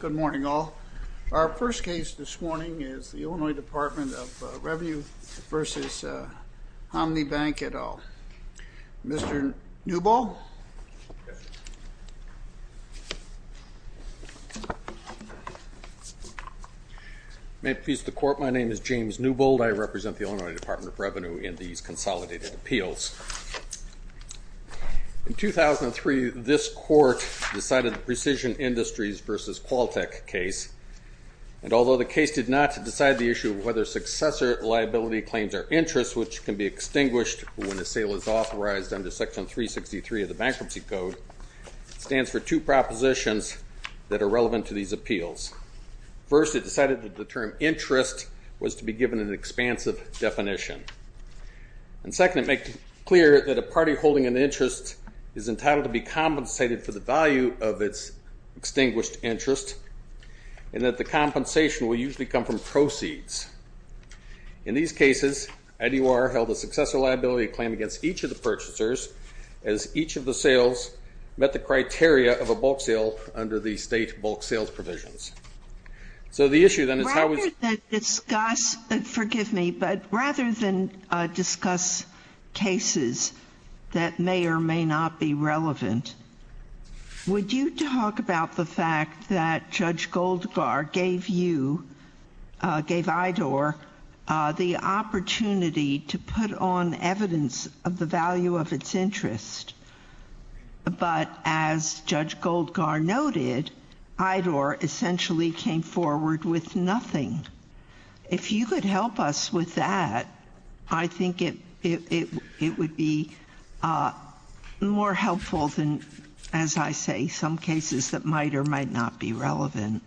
Good morning all. Our first case this morning is the Illinois Department of Revenue v. Hanmi Bank et al. Mr. Newbold. May it please the court, my name is James Newbold. I represent the Illinois Department of Revenue v. Hanmi Bank. This court decided the Precision Industries v. Qualtech case, and although the case did not decide the issue of whether successor liability claims are interest, which can be extinguished when a sale is authorized under section 363 of the Bankruptcy Code, stands for two propositions that are relevant to these appeals. First, it decided that the term interest was to be given an expansive definition. And second, it made clear that a party holding an interest is entitled to be compensated for the value of its extinguished interest, and that the compensation will usually come from proceeds. In these cases, IDOR held a successor liability claim against each of the purchasers, as each of the sales met the criteria of a bulk sale under the state bulk sales provisions. So the issue then is how we Rather than discuss, forgive me, but rather than discuss cases that may or may not be relevant, would you talk about the fact that Judge Goldgar gave you, gave IDOR, the opportunity to put on evidence of the value of its interest, but as Judge Goldgar noted, IDOR essentially came forward with nothing. If you could help us with that, I think it would be more helpful than, as I say, some cases that might or might not be relevant.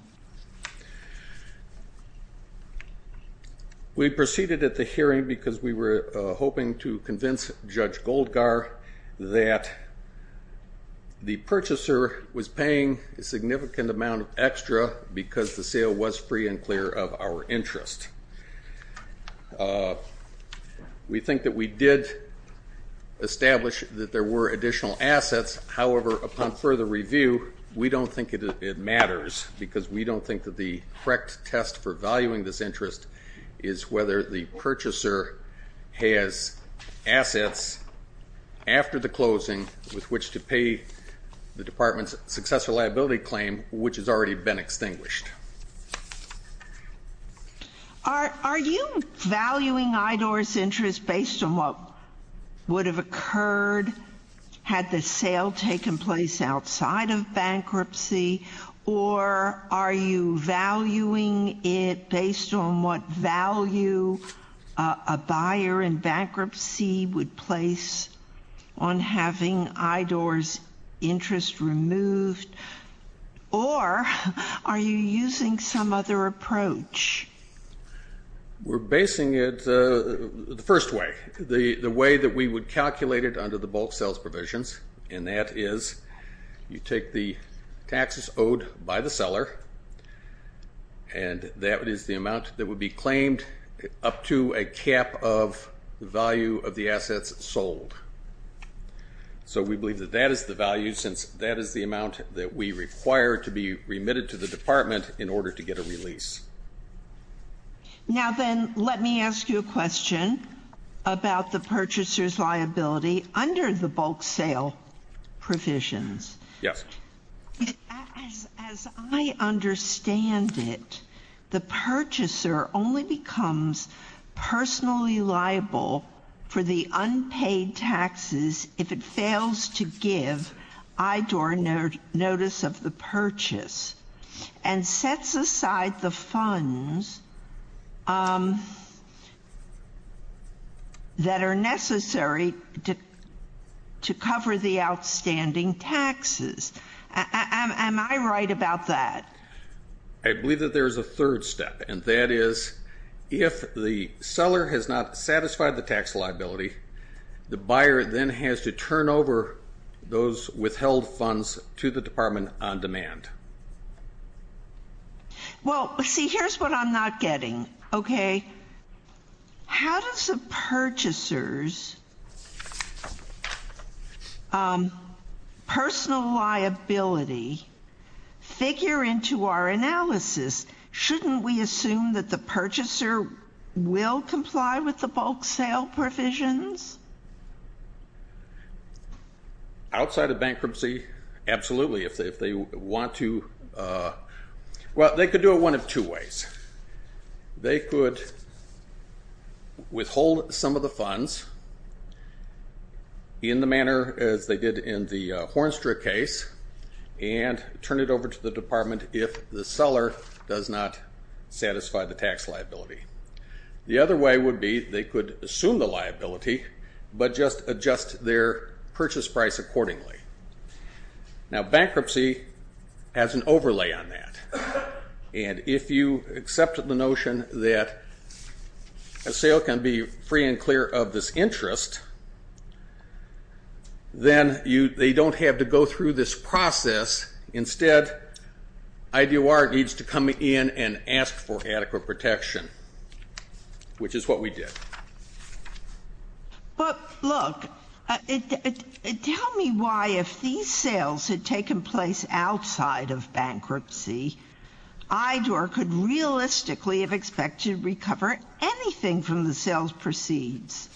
We proceeded at the hearing because we were hoping to convince Judge Goldgar that the purchaser was paying a significant amount extra because the sale was free and clear of our interest. We think that we did establish that there were additional assets. However, upon further review, we don't think it matters because we don't think that the correct test for valuing this interest is whether the purchaser has assets after the closing with which to Are you valuing IDOR's interest based on what would have occurred had the sale taken place outside of bankruptcy, or are you valuing it based on what value a buyer in bankruptcy would place on having IDOR's interest removed, or are you using some other approach? We're basing it the first way, the way that we would calculate it under the bulk sales provisions, and that is you take the taxes owed by the seller, and that is the amount that would be claimed up to a cap of the value of the assets sold. So we believe that that is the value since that is the amount that we require to be remitted to the department in order to get a release. Now then, let me ask you a question about the purchaser's purchaser only becomes personally liable for the unpaid taxes if it fails to give IDOR notice of the purchase and sets aside the funds that are necessary to cover the outstanding if the seller has not satisfied the tax liability, the buyer then has to turn over those withheld funds to the department on demand. Well, see, here's what I'm not getting, okay? How does the purchaser's personal liability figure into our analysis? Shouldn't we assume that the purchaser will comply with the bulk sale provisions? Outside of bankruptcy, absolutely. If they want to, well, they could do it one of two ways. They could withhold some of the funds in the manner as they did in the Hornstra case and turn it over to the department if the seller does not satisfy the tax liability. The other way would be they could assume the liability but just adjust their purchase price accordingly. Now bankruptcy has an overlay on that and if you accept the notion that a sale can be free and clear of this interest, then you, they don't have to go through this process. Instead, IDOR needs to come in and ask for adequate protection, which is what we did. But look, tell me why if these sales had taken place outside of bankruptcy, IDOR could realistically have expected to recover anything from the sales proceeds,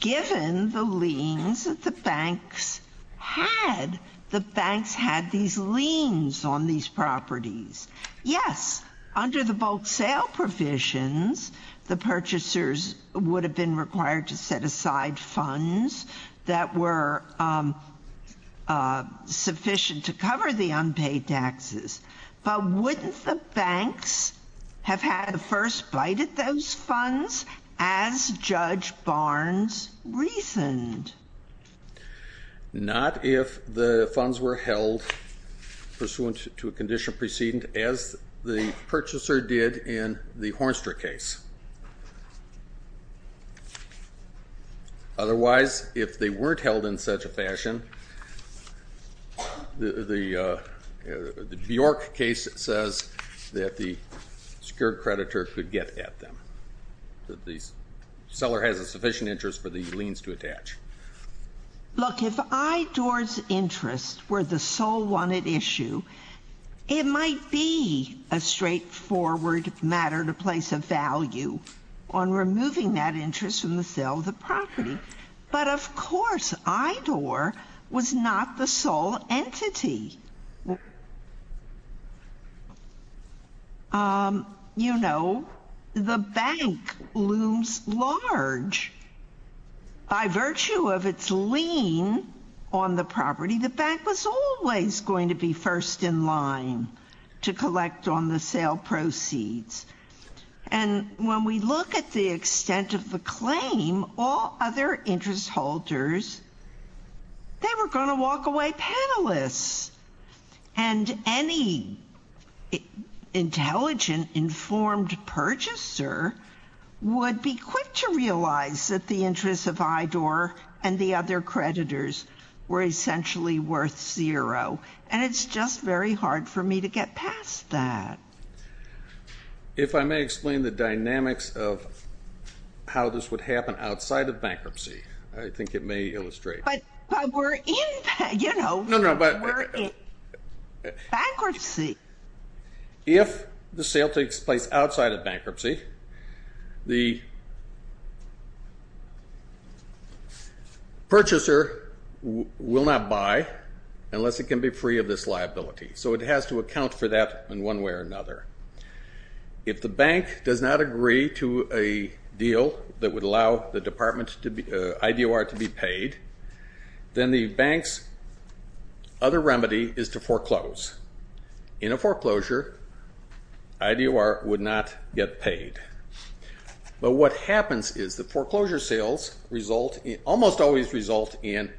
given the liens that the banks had. The banks had these liens on these properties. Yes, under the bulk sale provisions, the purchasers would have been required to set aside funds that were sufficient to cover the unpaid taxes, but wouldn't the banks have had a first bite at those funds as Judge Barnes reasoned? Not if the funds were held pursuant to a condition preceding as the purchaser did in the Hornstra case. Otherwise, if they weren't held in such a fashion, the Bjork case says that the secured creditor could get at them. The seller has a sufficient interest for the liens to attach. Look, if IDOR's interests were the sole wanted issue, it might be a straightforward matter to place a value on removing that interest from the sale of the property. But of course, IDOR was not the sole entity. You know, the bank looms large. By virtue of its lien on the And when we look at the extent of the claim, all other interest holders, they were going to walk away penniless. And any intelligent, informed purchaser would be quick to realize that the interests of IDOR and the other creditors were essentially worth zero. And it's just very hard for me to get past that. If I may explain the dynamics of how this would happen outside of bankruptcy, I think it may illustrate. But we're in, you know, we're in bankruptcy. If the sale takes place outside of bankruptcy, the purchaser will not buy unless it can be free of this liability. So it has to account for that in one way or another. If the bank does not agree to a deal that would allow the IDOR to be paid, then the bank's other remedy is to foreclose. In a foreclosure, IDOR would not get paid. But what happens is that foreclosure sales result, almost always result in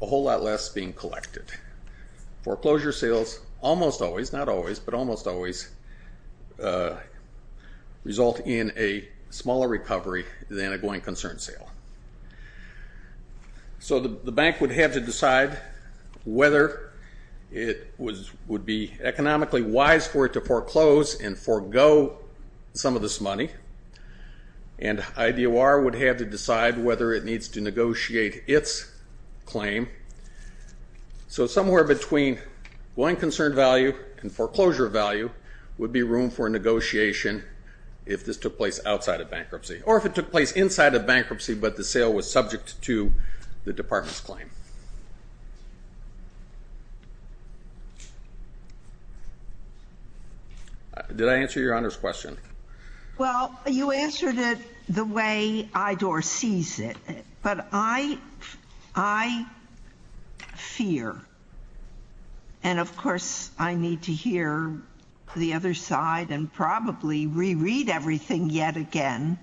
a whole lot less being collected. Foreclosure sales, almost always, not always, but almost always result in a smaller recovery than a going concern sale. So the bank would have to decide whether it would be economically wise for it to foreclose and forego some of this money. And claim. So somewhere between going concern value and foreclosure value would be room for negotiation if this took place outside of bankruptcy. Or if it took place inside of bankruptcy, but the sale was subject to the department's claim. Did I answer your Honor's question? Well, you answered it the way IDOR sees it. But I fear, and of course I need to hear the other side and probably reread everything yet again.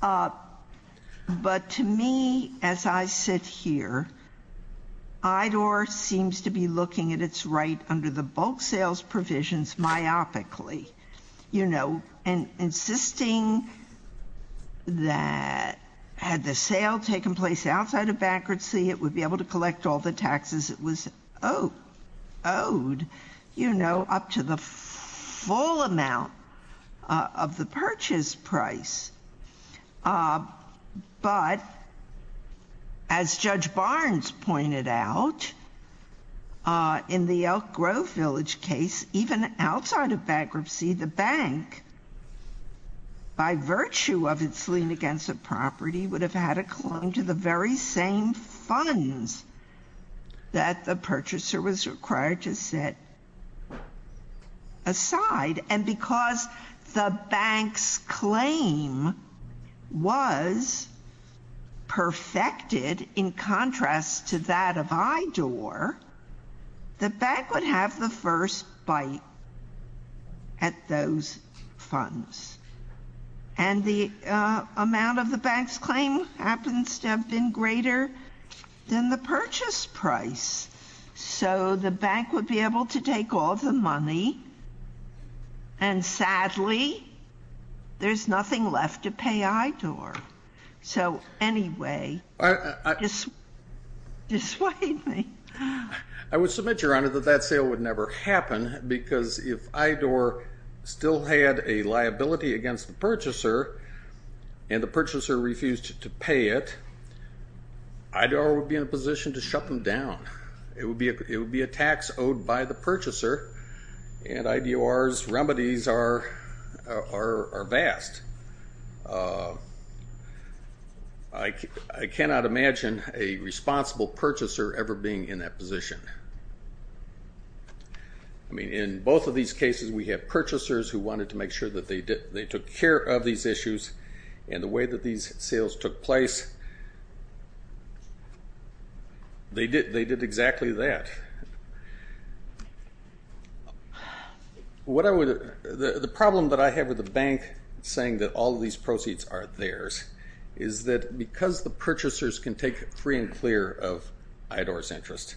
But to me, as I sit here, IDOR seems to be looking at its right under the that had the sale taken place outside of bankruptcy, it would be able to collect all the taxes it was owed, you know, up to the full amount of the purchase price. But as Judge Barnes pointed out, in the Elk Grove Village case, even outside of bankruptcy, the bank, by virtue of its lien against the property, would have had a claim to the very same funds that the purchaser was required to set aside. And because the bank's claim was perfected in contrast to that of IDOR, the bank would have the first bite at those funds. And the amount of the bank's claim happens to have been greater than the purchase price. So the bank would be able to take all the money, and sadly, there's nothing left to pay IDOR. So anyway, dissuade me. I would submit, Your Honor, that that sale would never happen, because if IDOR still had a liability against the purchaser, and the purchaser refused to pay it, IDOR would be in a position to shut them down. It would be a tax owed by the purchaser, and IDOR's remedies are vast. I cannot imagine a responsible purchaser ever being in that position. I mean, in both of these cases, we have purchasers who wanted to make sure that they took care of these issues, and the way that these sales took place, they did exactly that. The problem that I have with the bank saying that all of these proceeds are theirs is that because the purchasers can take free and clear of IDOR's interest,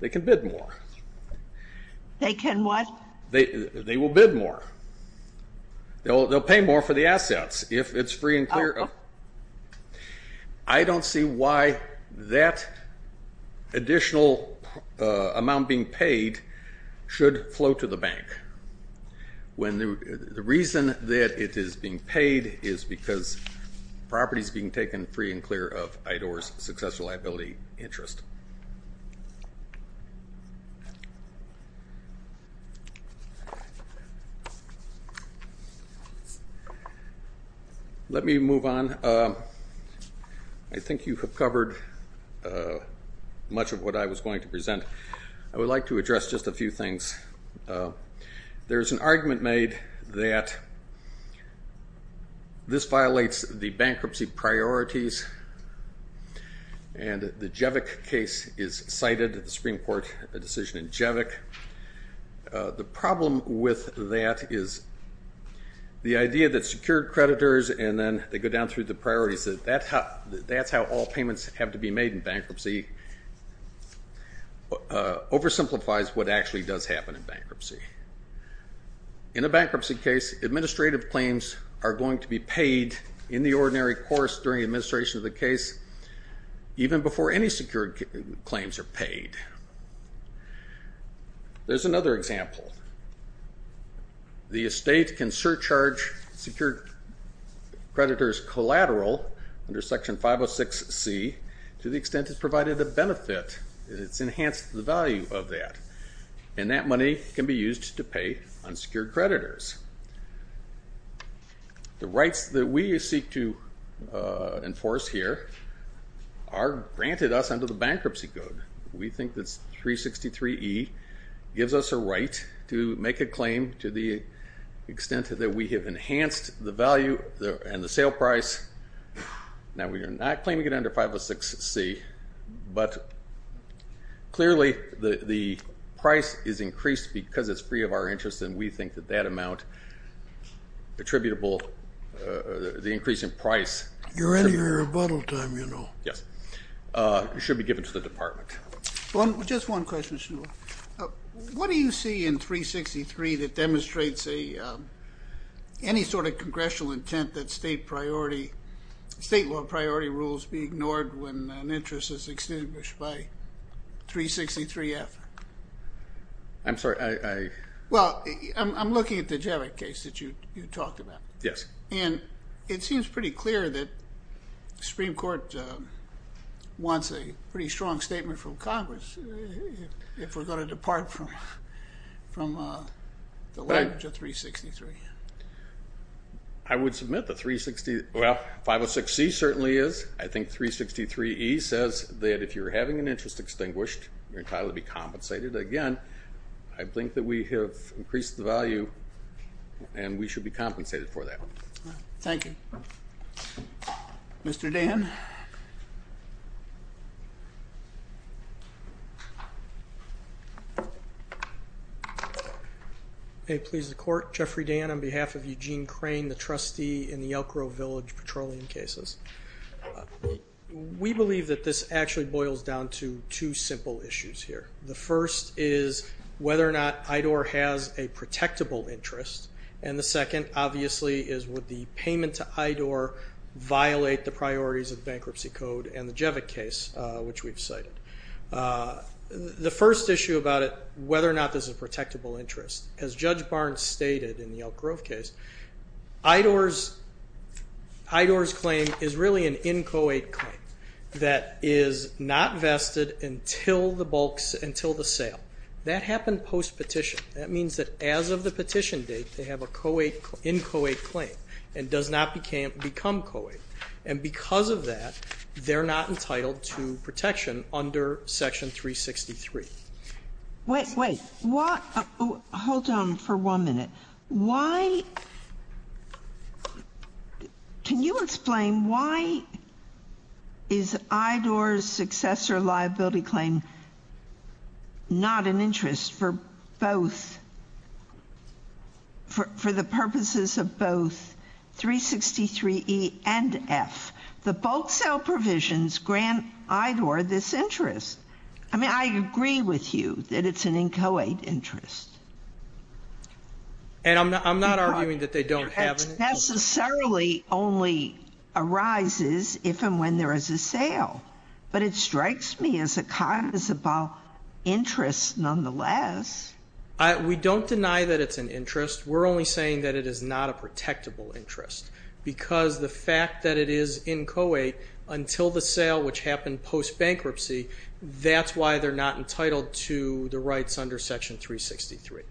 they can bid more. They can what? They will bid more. They'll pay more for the assets if it's free and clear. Well, I don't see why that additional amount being paid should flow to the bank, when the reason that it is being paid is because property is being taken free and clear of IDOR's successful liability interest. Let me move on. I think you have covered much of what I was going to present. I would like to address just a few things. There's an argument made that this violates the bankruptcy priorities, and the Jevick case is cited, the Supreme Court decision in Jevick. The problem with that is the idea that secured creditors, and then they go down through the priorities, that that's how all payments have to be made in bankruptcy, oversimplifies what actually does happen in bankruptcy. In a bankruptcy case, administrative claims are going to be paid in the ordinary course during administration of the case, even before any secured claims are paid. There's another example. The estate can surcharge secured creditors collateral under section 506C to the extent it's provided a benefit, it's enhanced the value of that, and that money can be used to pay unsecured creditors. The rights that we seek to enforce here are granted us under the bankruptcy code. We think that 363E gives us a right to make a claim to the extent that we have enhanced the value and the sale price. Now we are not claiming it under 506C, but clearly the price is increased because it's free of our interest, and we think that that amount attributable, the increase in price- You're in your rebuttal time, you know. Yes. It should be given to the department. Just one question. What do you see in 363 that demonstrates any sort of congressional intent that state law priority rules be ignored when an interest is extinguished by 363F? I'm sorry, I- Well, I'm looking at the Javik case that you talked about. Yes. And it seems pretty clear that the Supreme Court wants a pretty strong statement from Congress if we're going to depart from the language of 363. I would submit the 360- well, 506C certainly is. I think 363E says that if you're having an interest extinguished, you're entitled to be compensated. Again, I think that we have increased the value and we should be compensated for that. Thank you. Mr. Dan? May it please the court. Jeffrey Dan on behalf of Eugene Crane, the trustee in the Elk Grove Village petroleum cases. We believe that this actually boils down to two simple issues here. The first is whether or not IDOR has a protectable interest, and the second, obviously, is would the payment to IDOR violate the priorities of bankruptcy code and the Javik case, which we've cited. The first issue about it, whether or not this is a protectable interest, as Judge Barnes stated in the Elk Grove case, IDOR's claim is really an in-co-aid claim that is not vested until the sale. That happened post-petition. That means that as of the petition date, they have a in-co-aid claim and does not become co-aid. And because of that, they're not entitled to protection under section 363. Wait, wait. Hold on for one minute. Why, can you explain why is IDOR's successor liability claim not an interest for both, for the purposes of both 363E and F? The bulk sale provisions grant IDOR this interest. I mean, I agree with you that it's an in-co-aid interest. And I'm not arguing that they don't have an interest. Necessarily only arises if and when there is a sale, but it strikes me as a cause of interest nonetheless. We don't deny that it's an interest. We're only saying that it is not a protectable interest because the fact that it is in-co-aid until the sale, which happened post-bankruptcy, that's why they're not entitled to the rights under section 363.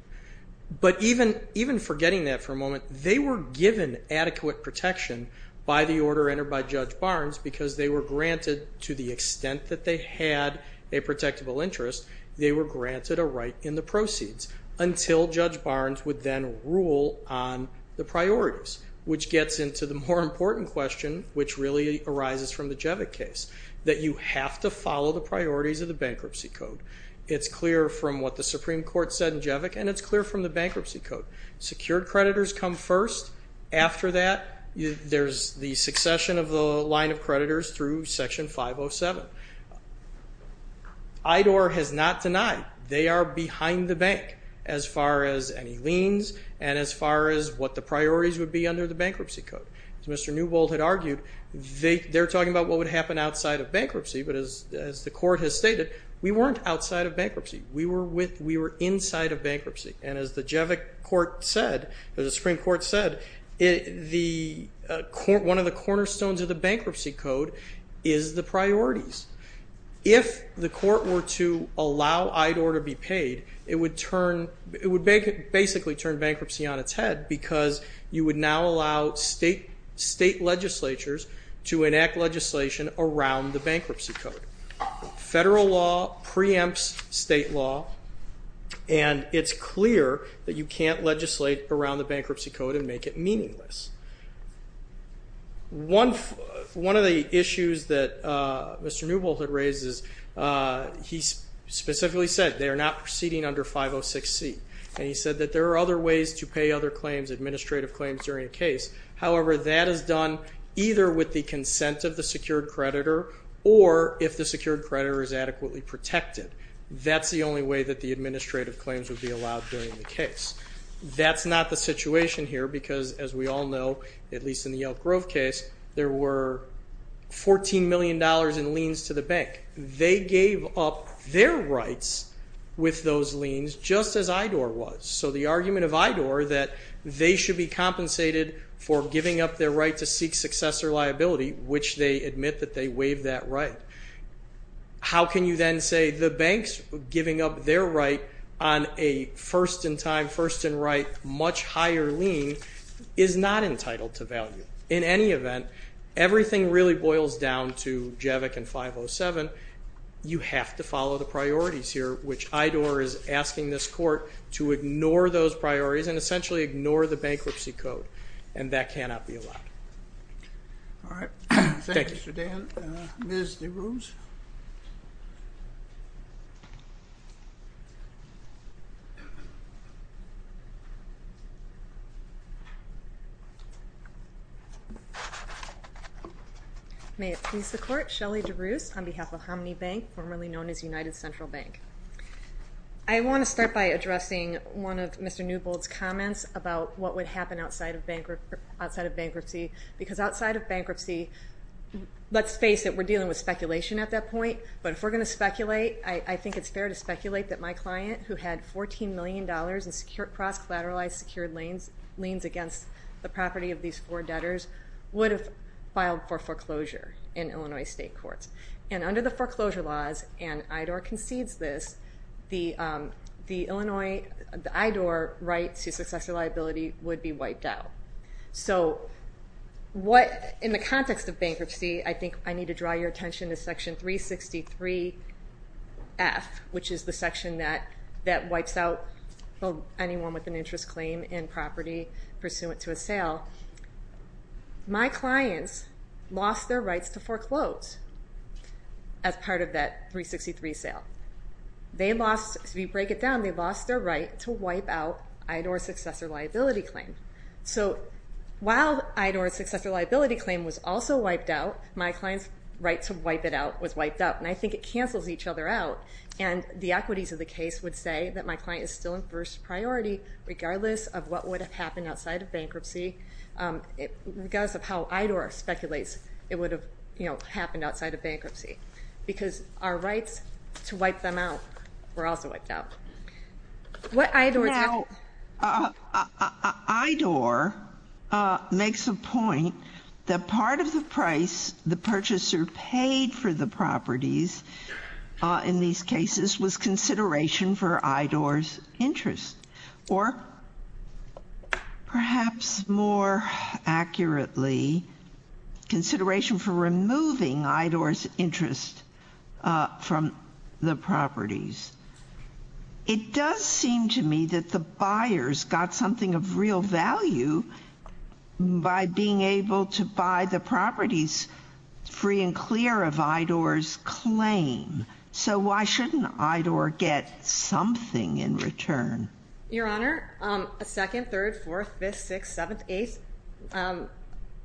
But even forgetting that for a moment, they were given adequate protection by the order entered by Judge Barnes because they were granted, to the extent that they had a protectable interest, they were granted a right in the proceeds until Judge Barnes would then rule on the priorities, which gets into the more important question, which really arises from the Jevick case, that you have to follow the priorities of the bankruptcy code. It's clear from what the Supreme Court said in Jevick, and it's clear from the bankruptcy code. Secured creditors come first. After that, there's the succession of the line of bankruptcy through section 507. IDOR has not denied they are behind the bank as far as any liens and as far as what the priorities would be under the bankruptcy code. As Mr. Newbold had argued, they're talking about what would happen outside of bankruptcy, but as the court has stated, we weren't outside of bankruptcy. We were inside of bankruptcy, and as the Jevick court said, as the Supreme Court said, one of the cornerstones of the bankruptcy code is the priorities. If the court were to allow IDOR to be paid, it would basically turn bankruptcy on its head because you would now allow state legislatures to enact legislation around the bankruptcy code. Federal law preempts state law, and it's clear that you can't legislate around the bankruptcy code and make it meaningless. One of the issues that Mr. Newbold had raised is he specifically said they are not proceeding under 506C, and he said that there are other ways to pay other claims, administrative claims, during a case. However, that is done either with the consent of the secured creditor or if the secured creditor is adequately protected. That's the only way that the administrative claims would be allowed during the case. That's not the situation here because, as we all know, at least in the Yelp Grove case, there were $14 million in liens to the bank. They gave up their rights with those liens just as IDOR was, so the argument of IDOR that they should be compensated for giving up their right to seek successor liability, which they admit that they waived that right, how can you then say the banks giving up their right on a first-in-time, first-in-right, much higher lien is not entitled to value? In any event, everything really boils down to JAVIC and 507. You have to follow the priorities here, which IDOR is asking this court to ignore those priorities and essentially ignore the bankruptcy code, and that cannot be allowed. All right. Thank you, Mr. Dan. Ms. DeRose. May it please the court, Shelley DeRose on behalf of Hominy Bank, formerly known as United Central Bank. I want to start by addressing one of Mr. Newbold's comments about what would happen outside of bankruptcy, because outside of bankruptcy, let's face it, we're dealing with speculation at that point, but if we're going to speculate, I think it's fair to speculate that my client, who had $14 million in cross-collateralized secured liens against the property of these four debtors, would have filed for foreclosure in Illinois state courts. And under the foreclosure laws, and IDOR concedes this, the IDOR right to successor liability would be wiped out. So in the context of bankruptcy, I think I need to draw your attention to section 363F, which is the section that wipes out anyone with an interest claim in property pursuant to a sale. Now, my clients lost their rights to foreclose as part of that 363 sale. They lost, if you break it down, they lost their right to wipe out IDOR successor liability claim. So while IDOR successor liability claim was also wiped out, my client's right to wipe it out was wiped out, and I think it cancels each other out. And the equities of the case would say that my client is still in first priority regardless of what would have happened outside of bankruptcy, regardless of how IDOR speculates it would have, you know, happened outside of bankruptcy. Because our rights to wipe them out were also wiped out. Now, IDOR makes a point that part of the price the purchaser paid for the properties in these cases was consideration for IDOR's interest, or perhaps more accurately, consideration for removing IDOR's interest from the properties. It does seem to me that the buyers got something of real value by being able to buy the properties free and clear of IDOR's claim. So why shouldn't IDOR get something in return? Your Honor, a second, third, fourth, fifth, sixth, seventh, eighth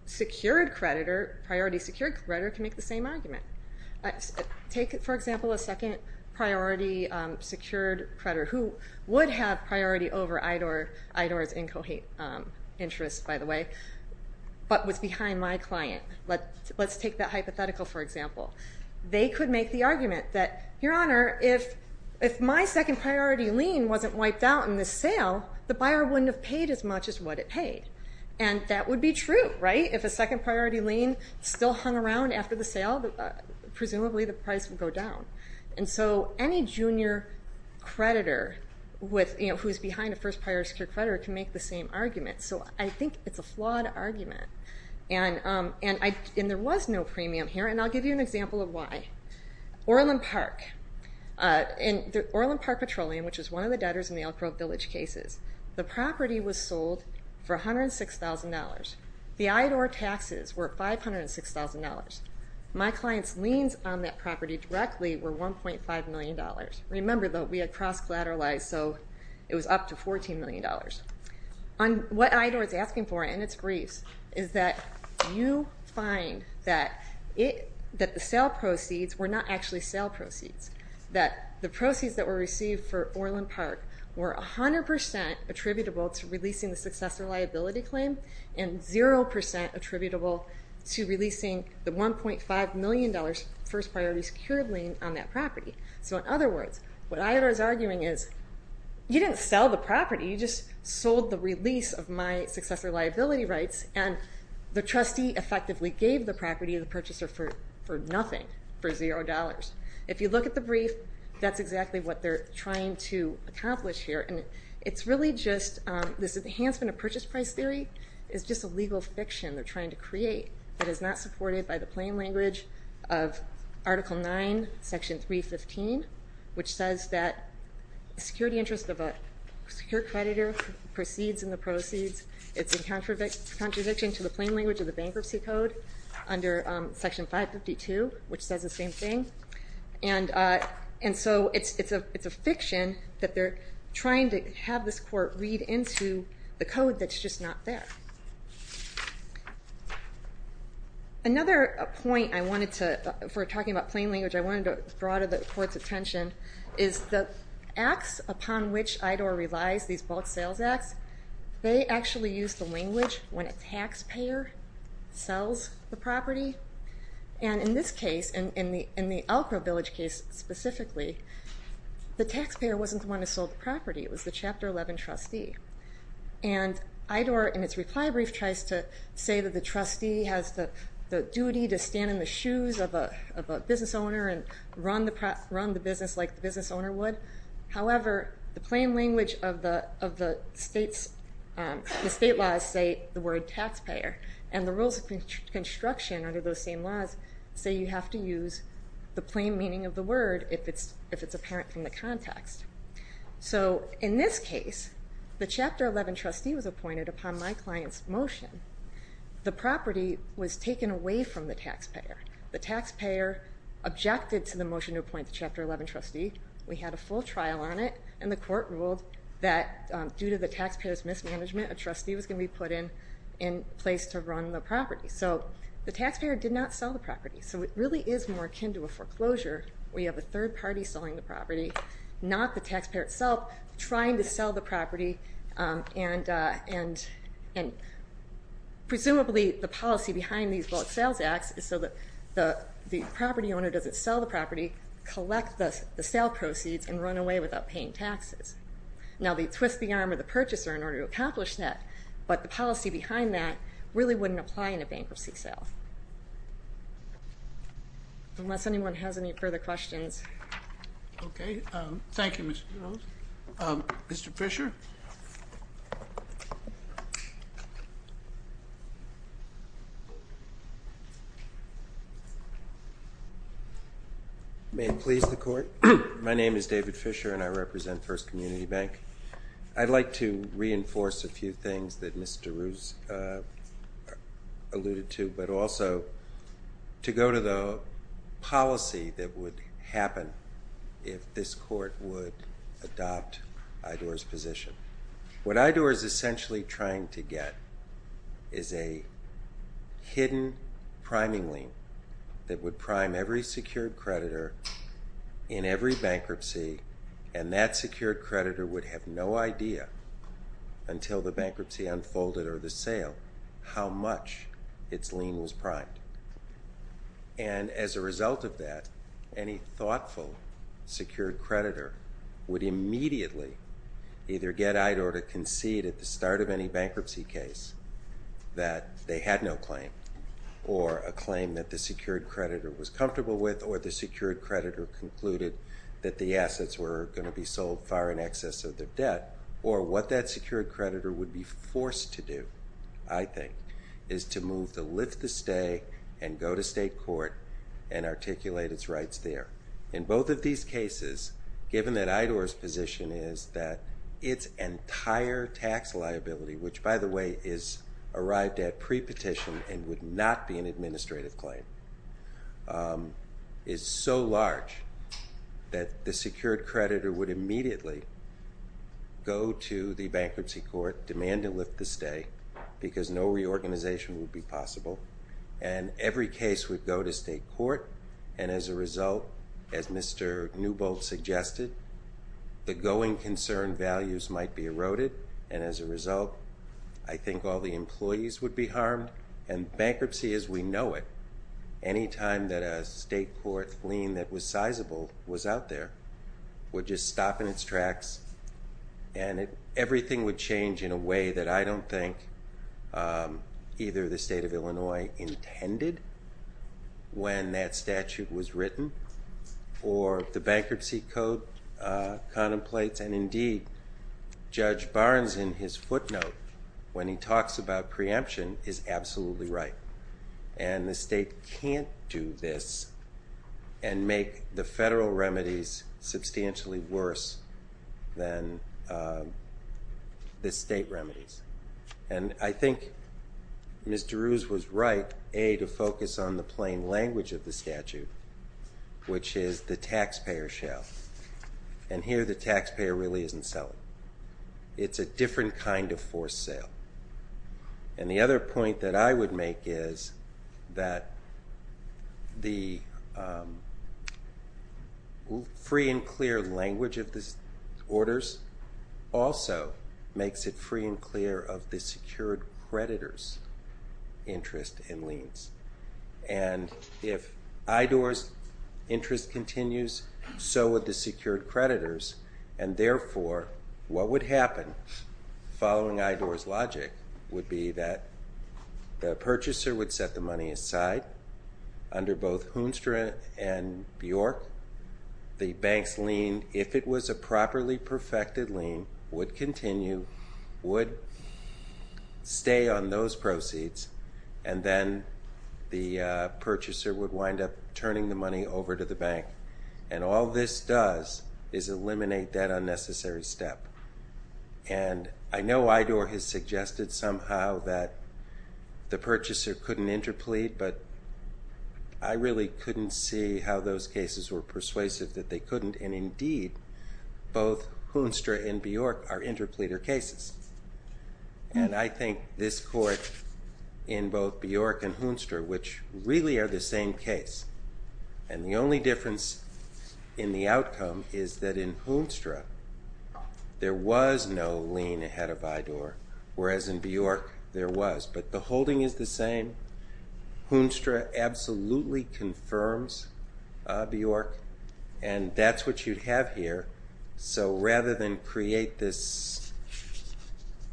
secured creditor, priority secured creditor can make the same argument. Take, for example, a second priority secured creditor who would have priority over IDOR's interest, by the way, but was behind my client. Let's take that hypothetical, for example. They could make the argument that, Your Honor, if my second priority lien wasn't wiped out in the sale, the buyer wouldn't have paid as much as what it paid. And that would be true, right? If a second priority lien still hung around after the sale, presumably the price would go down. And so any junior creditor who's behind a first priority secured creditor can make the same argument. So I think it's a flawed argument. And there was no premium here, and I'll give you an example of why. Orland Park Petroleum, which is one of the debtors in the Elk Grove Village cases, the property was sold for $106,000. The IDOR taxes were $506,000. My client's liens on that property were $506,000. Remember, though, we had cross-collateralized, so it was up to $14 million. What IDOR is asking for in its briefs is that you find that the sale proceeds were not actually sale proceeds. That the proceeds that were received for Orland Park were 100% attributable to releasing the successor liability claim and 0% attributable to releasing the $1.5 million first priority secured lien on that property. So in other words, what IDOR is arguing is you didn't sell the property, you just sold the release of my successor liability rights, and the trustee effectively gave the property to the purchaser for nothing, for $0. If you look at the brief, that's exactly what they're trying to accomplish here. And it's really just this enhancement of purchase price theory is just a legal fiction they're trying to create that is not supported by the plain language of Article 9, Section 315, which says that security interest of a secure creditor proceeds in the proceeds. It's in contradiction to the plain language of the bankruptcy code under Section 552, which says the same thing. And so it's a fiction that they're trying to have this court read into the code that's just not there. Another point I wanted to, for talking about plain language, I wanted to draw to the court's attention is the acts upon which IDOR relies, these bulk sales acts, they actually use the language when a taxpayer sells the property. And in this case, in the Elk Grove Village case specifically, the taxpayer wasn't the one who sold the property, it was the Chapter 11 trustee. And IDOR, in its reply brief, tries to say that the trustee has the duty to stand in the shoes of a business owner and run the business like the business owner would. However, the plain language of the state laws say the word taxpayer, and the rules of construction under those same laws say you have to use the plain meaning of the word if it's apparent from the context. So in this case, the Chapter 11 trustee was appointed upon my client's motion. The property was taken away from the taxpayer. The taxpayer objected to the motion to appoint the Chapter 11 trustee. We had a full trial on it, and the court ruled that due to the taxpayer's mismanagement, a trustee was going to be put in place to run the property. So the taxpayer did not sell the property. So it really is more akin to a foreclosure where you have a third party selling the property, not the taxpayer itself trying to sell the property, and presumably the policy behind these bulk sales acts is so that the property owner doesn't sell the property, collect the sale proceeds, and run away without paying taxes. Now they twist the arm of the purchaser in order to accomplish that, but the policy behind that really wouldn't apply in a bankruptcy sale. Unless anyone has any further questions. Okay, thank you, Mr. Rose. Mr. Fisher? May it please the Court. My name is David Fisher, and I represent First Community Bank. I'd like to reinforce a few things that Mr. Rose alluded to, but also to go to the policy that would happen if this Court would adopt IDOR's position. What IDOR is essentially trying to get is a hidden priming link that would prime every secured creditor in every bankruptcy, and that secured creditor would have no idea until the bankruptcy unfolded or the sale how much its lien was primed. And as a result of that, any thoughtful secured creditor would immediately either get IDOR to concede at the start of any bankruptcy case that they had no claim, or a claim that the secured creditor was comfortable with or the secured creditor concluded that the assets were going to be sold far in excess of their debt, or what that secured creditor would be forced to do, I think, is to move to lift the stay and go to state court and articulate its rights there. In both of these cases, given that IDOR's position is that its entire tax liability, which by the way is arrived at pre-petition and would not be an administrative claim, is so large that the secured creditor would immediately go to the bankruptcy court, demand to lift the stay, because no reorganization would be possible, and every case would go to state court, and as a result, as Mr. Newbold suggested, the going concern values might be eroded, and as a result, I think all the employees would be harmed, and bankruptcy as we know it, any time that a state court lien that was sizable was out there, would just stop in its tracks and everything would change in a way that I don't think either the state of Illinois intended when that statute was written, or the bankruptcy code contemplates, and indeed, Judge Barnes in his footnote, when he talks about preemption, is absolutely right, and the state can't do this and make the federal remedies substantially worse than the state remedies, and I think Mr. Ruse was right, A, to focus on the plain language of the taxpayer really isn't selling. It's a different kind of forced sale, and the other point that I would make is that the free and clear language of the orders also makes it free and clear of the secured creditor's interest in liens, and if IDOR's interest continues, so would the secured creditor's, and therefore, what would happen following IDOR's logic would be that the purchaser would set the money aside under both Hoonstra and Bjork, the bank's lien, if it was a properly perfected lien, would continue, would stay on those proceeds, and then the purchaser would wind up is eliminate that unnecessary step, and I know IDOR has suggested somehow that the purchaser couldn't interplead, but I really couldn't see how those cases were persuasive that they couldn't, and indeed, both Hoonstra and Bjork are interpleader cases, and I think this court in both Bjork and Hoonstra is that in Hoonstra, there was no lien ahead of IDOR, whereas in Bjork, there was, but the holding is the same. Hoonstra absolutely confirms Bjork, and that's what you'd have here, so rather than create this,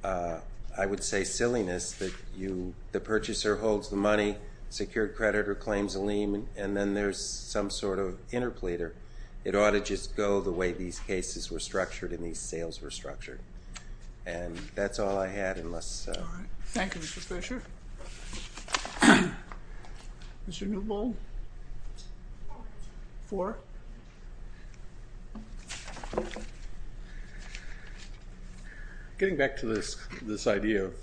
I would say, silliness that the purchaser holds the money, secured creditor claims a lien, and then there's some sort of interpleader, it ought to just go the way these cases were structured and these sales were structured, and that's all I had, unless. All right, thank you, Mr. Fisher. Mr. Newbold. Four. Getting back to this idea of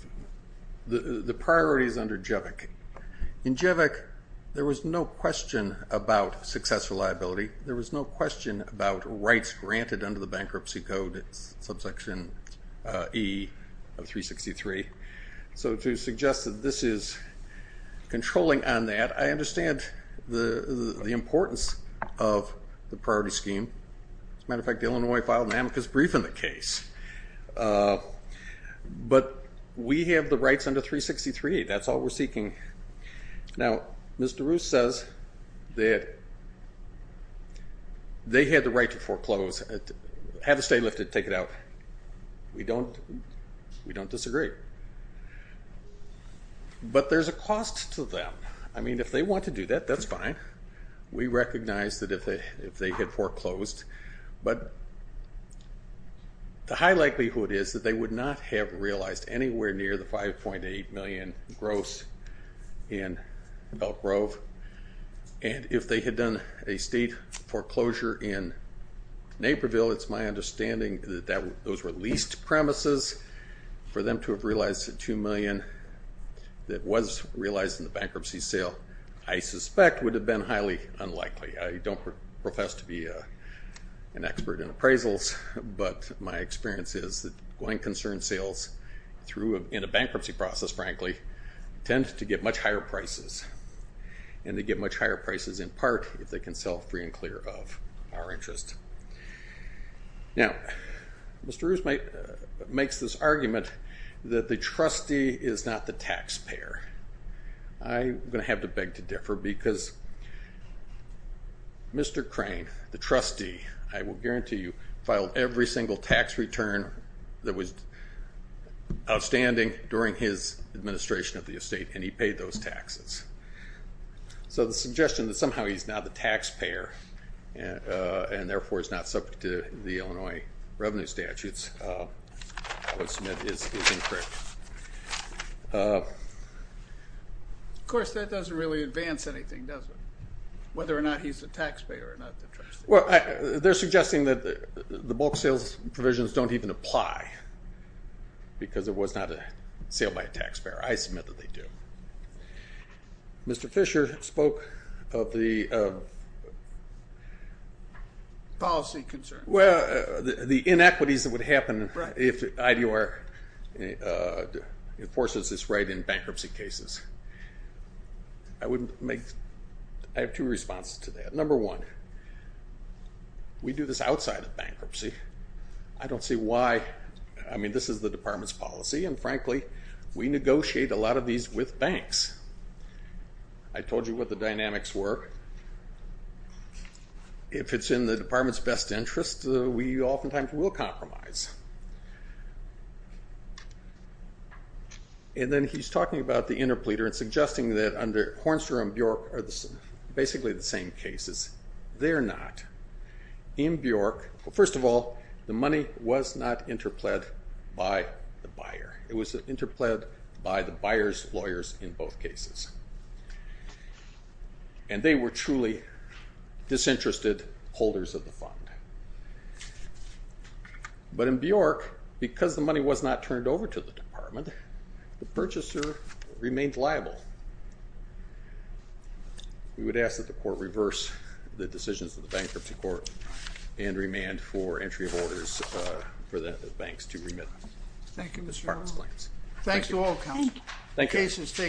the priorities under JEVC. In JEVC, there was no question about successful liability, there was no question about rights granted under the Bankruptcy Code, subsection E of 363, so to suggest that this is controlling on that, I understand the importance of the priority scheme. As a matter of fact, the Illinois filed an amicus brief in the case, but we have the rights under 363, that's all we're seeking. Now, Mr. Roos says that they had the right to foreclose, have a stay lifted, take it out. We don't disagree. But there's a cost to them. I mean, if they want to do that, that's fine. We recognize that if they had foreclosed, but the high likelihood is that they would not have realized anywhere near the $5.8 million gross in Elk Grove, and if they had done a state foreclosure in Naperville, it's my understanding that those were leased premises. For them to have realized the $2 million that was realized in the bankruptcy sale, I suspect, would have been highly unlikely. I don't profess to be an expert in appraisals, but my experience is that through a bankruptcy process, frankly, tend to get much higher prices, and they get much higher prices in part if they can sell free and clear of our interest. Now, Mr. Roos makes this argument that the trustee is not the taxpayer. I'm going to have to beg to differ because Mr. Crane, the trustee, I will guarantee you, filed every single tax return that was outstanding during his administration of the estate and he paid those taxes. So the suggestion that somehow he's not the taxpayer and therefore is not subject to the Illinois revenue statutes, I would submit is incorrect. Of course, that doesn't really advance anything, does it? Whether or not he's the taxpayer or not the trustee. Well, they're suggesting that the bulk sales provisions don't even apply because it was not a sale by a taxpayer. I submit that they do. Mr. Fisher spoke of the policy concerns. Well, the inequities that would happen if IDR enforces this right in bankruptcy cases. I have two responses to that. Number one, we do this outside of bankruptcy. I don't see why. I mean, this is the department's policy, and frankly, we negotiate a lot of these with banks. I told you what the dynamics were. If it's in the department's best interest, we oftentimes will compromise. And then he's talking about the interpleader and suggesting that under Hornstrom and Bjork are basically the same cases. They're not. In Bjork, first of all, the money was not interpled by the buyer. It was interpled by the buyer's lawyers in both cases. And they were truly disinterested holders of the fund. But in Bjork, because the money was not turned over to the department, the purchaser remained liable. We would ask that the court reverse the decisions of the bankruptcy court and remand for entry of orders for the banks to remit the department's plans. Thanks to all counsel. Thank you.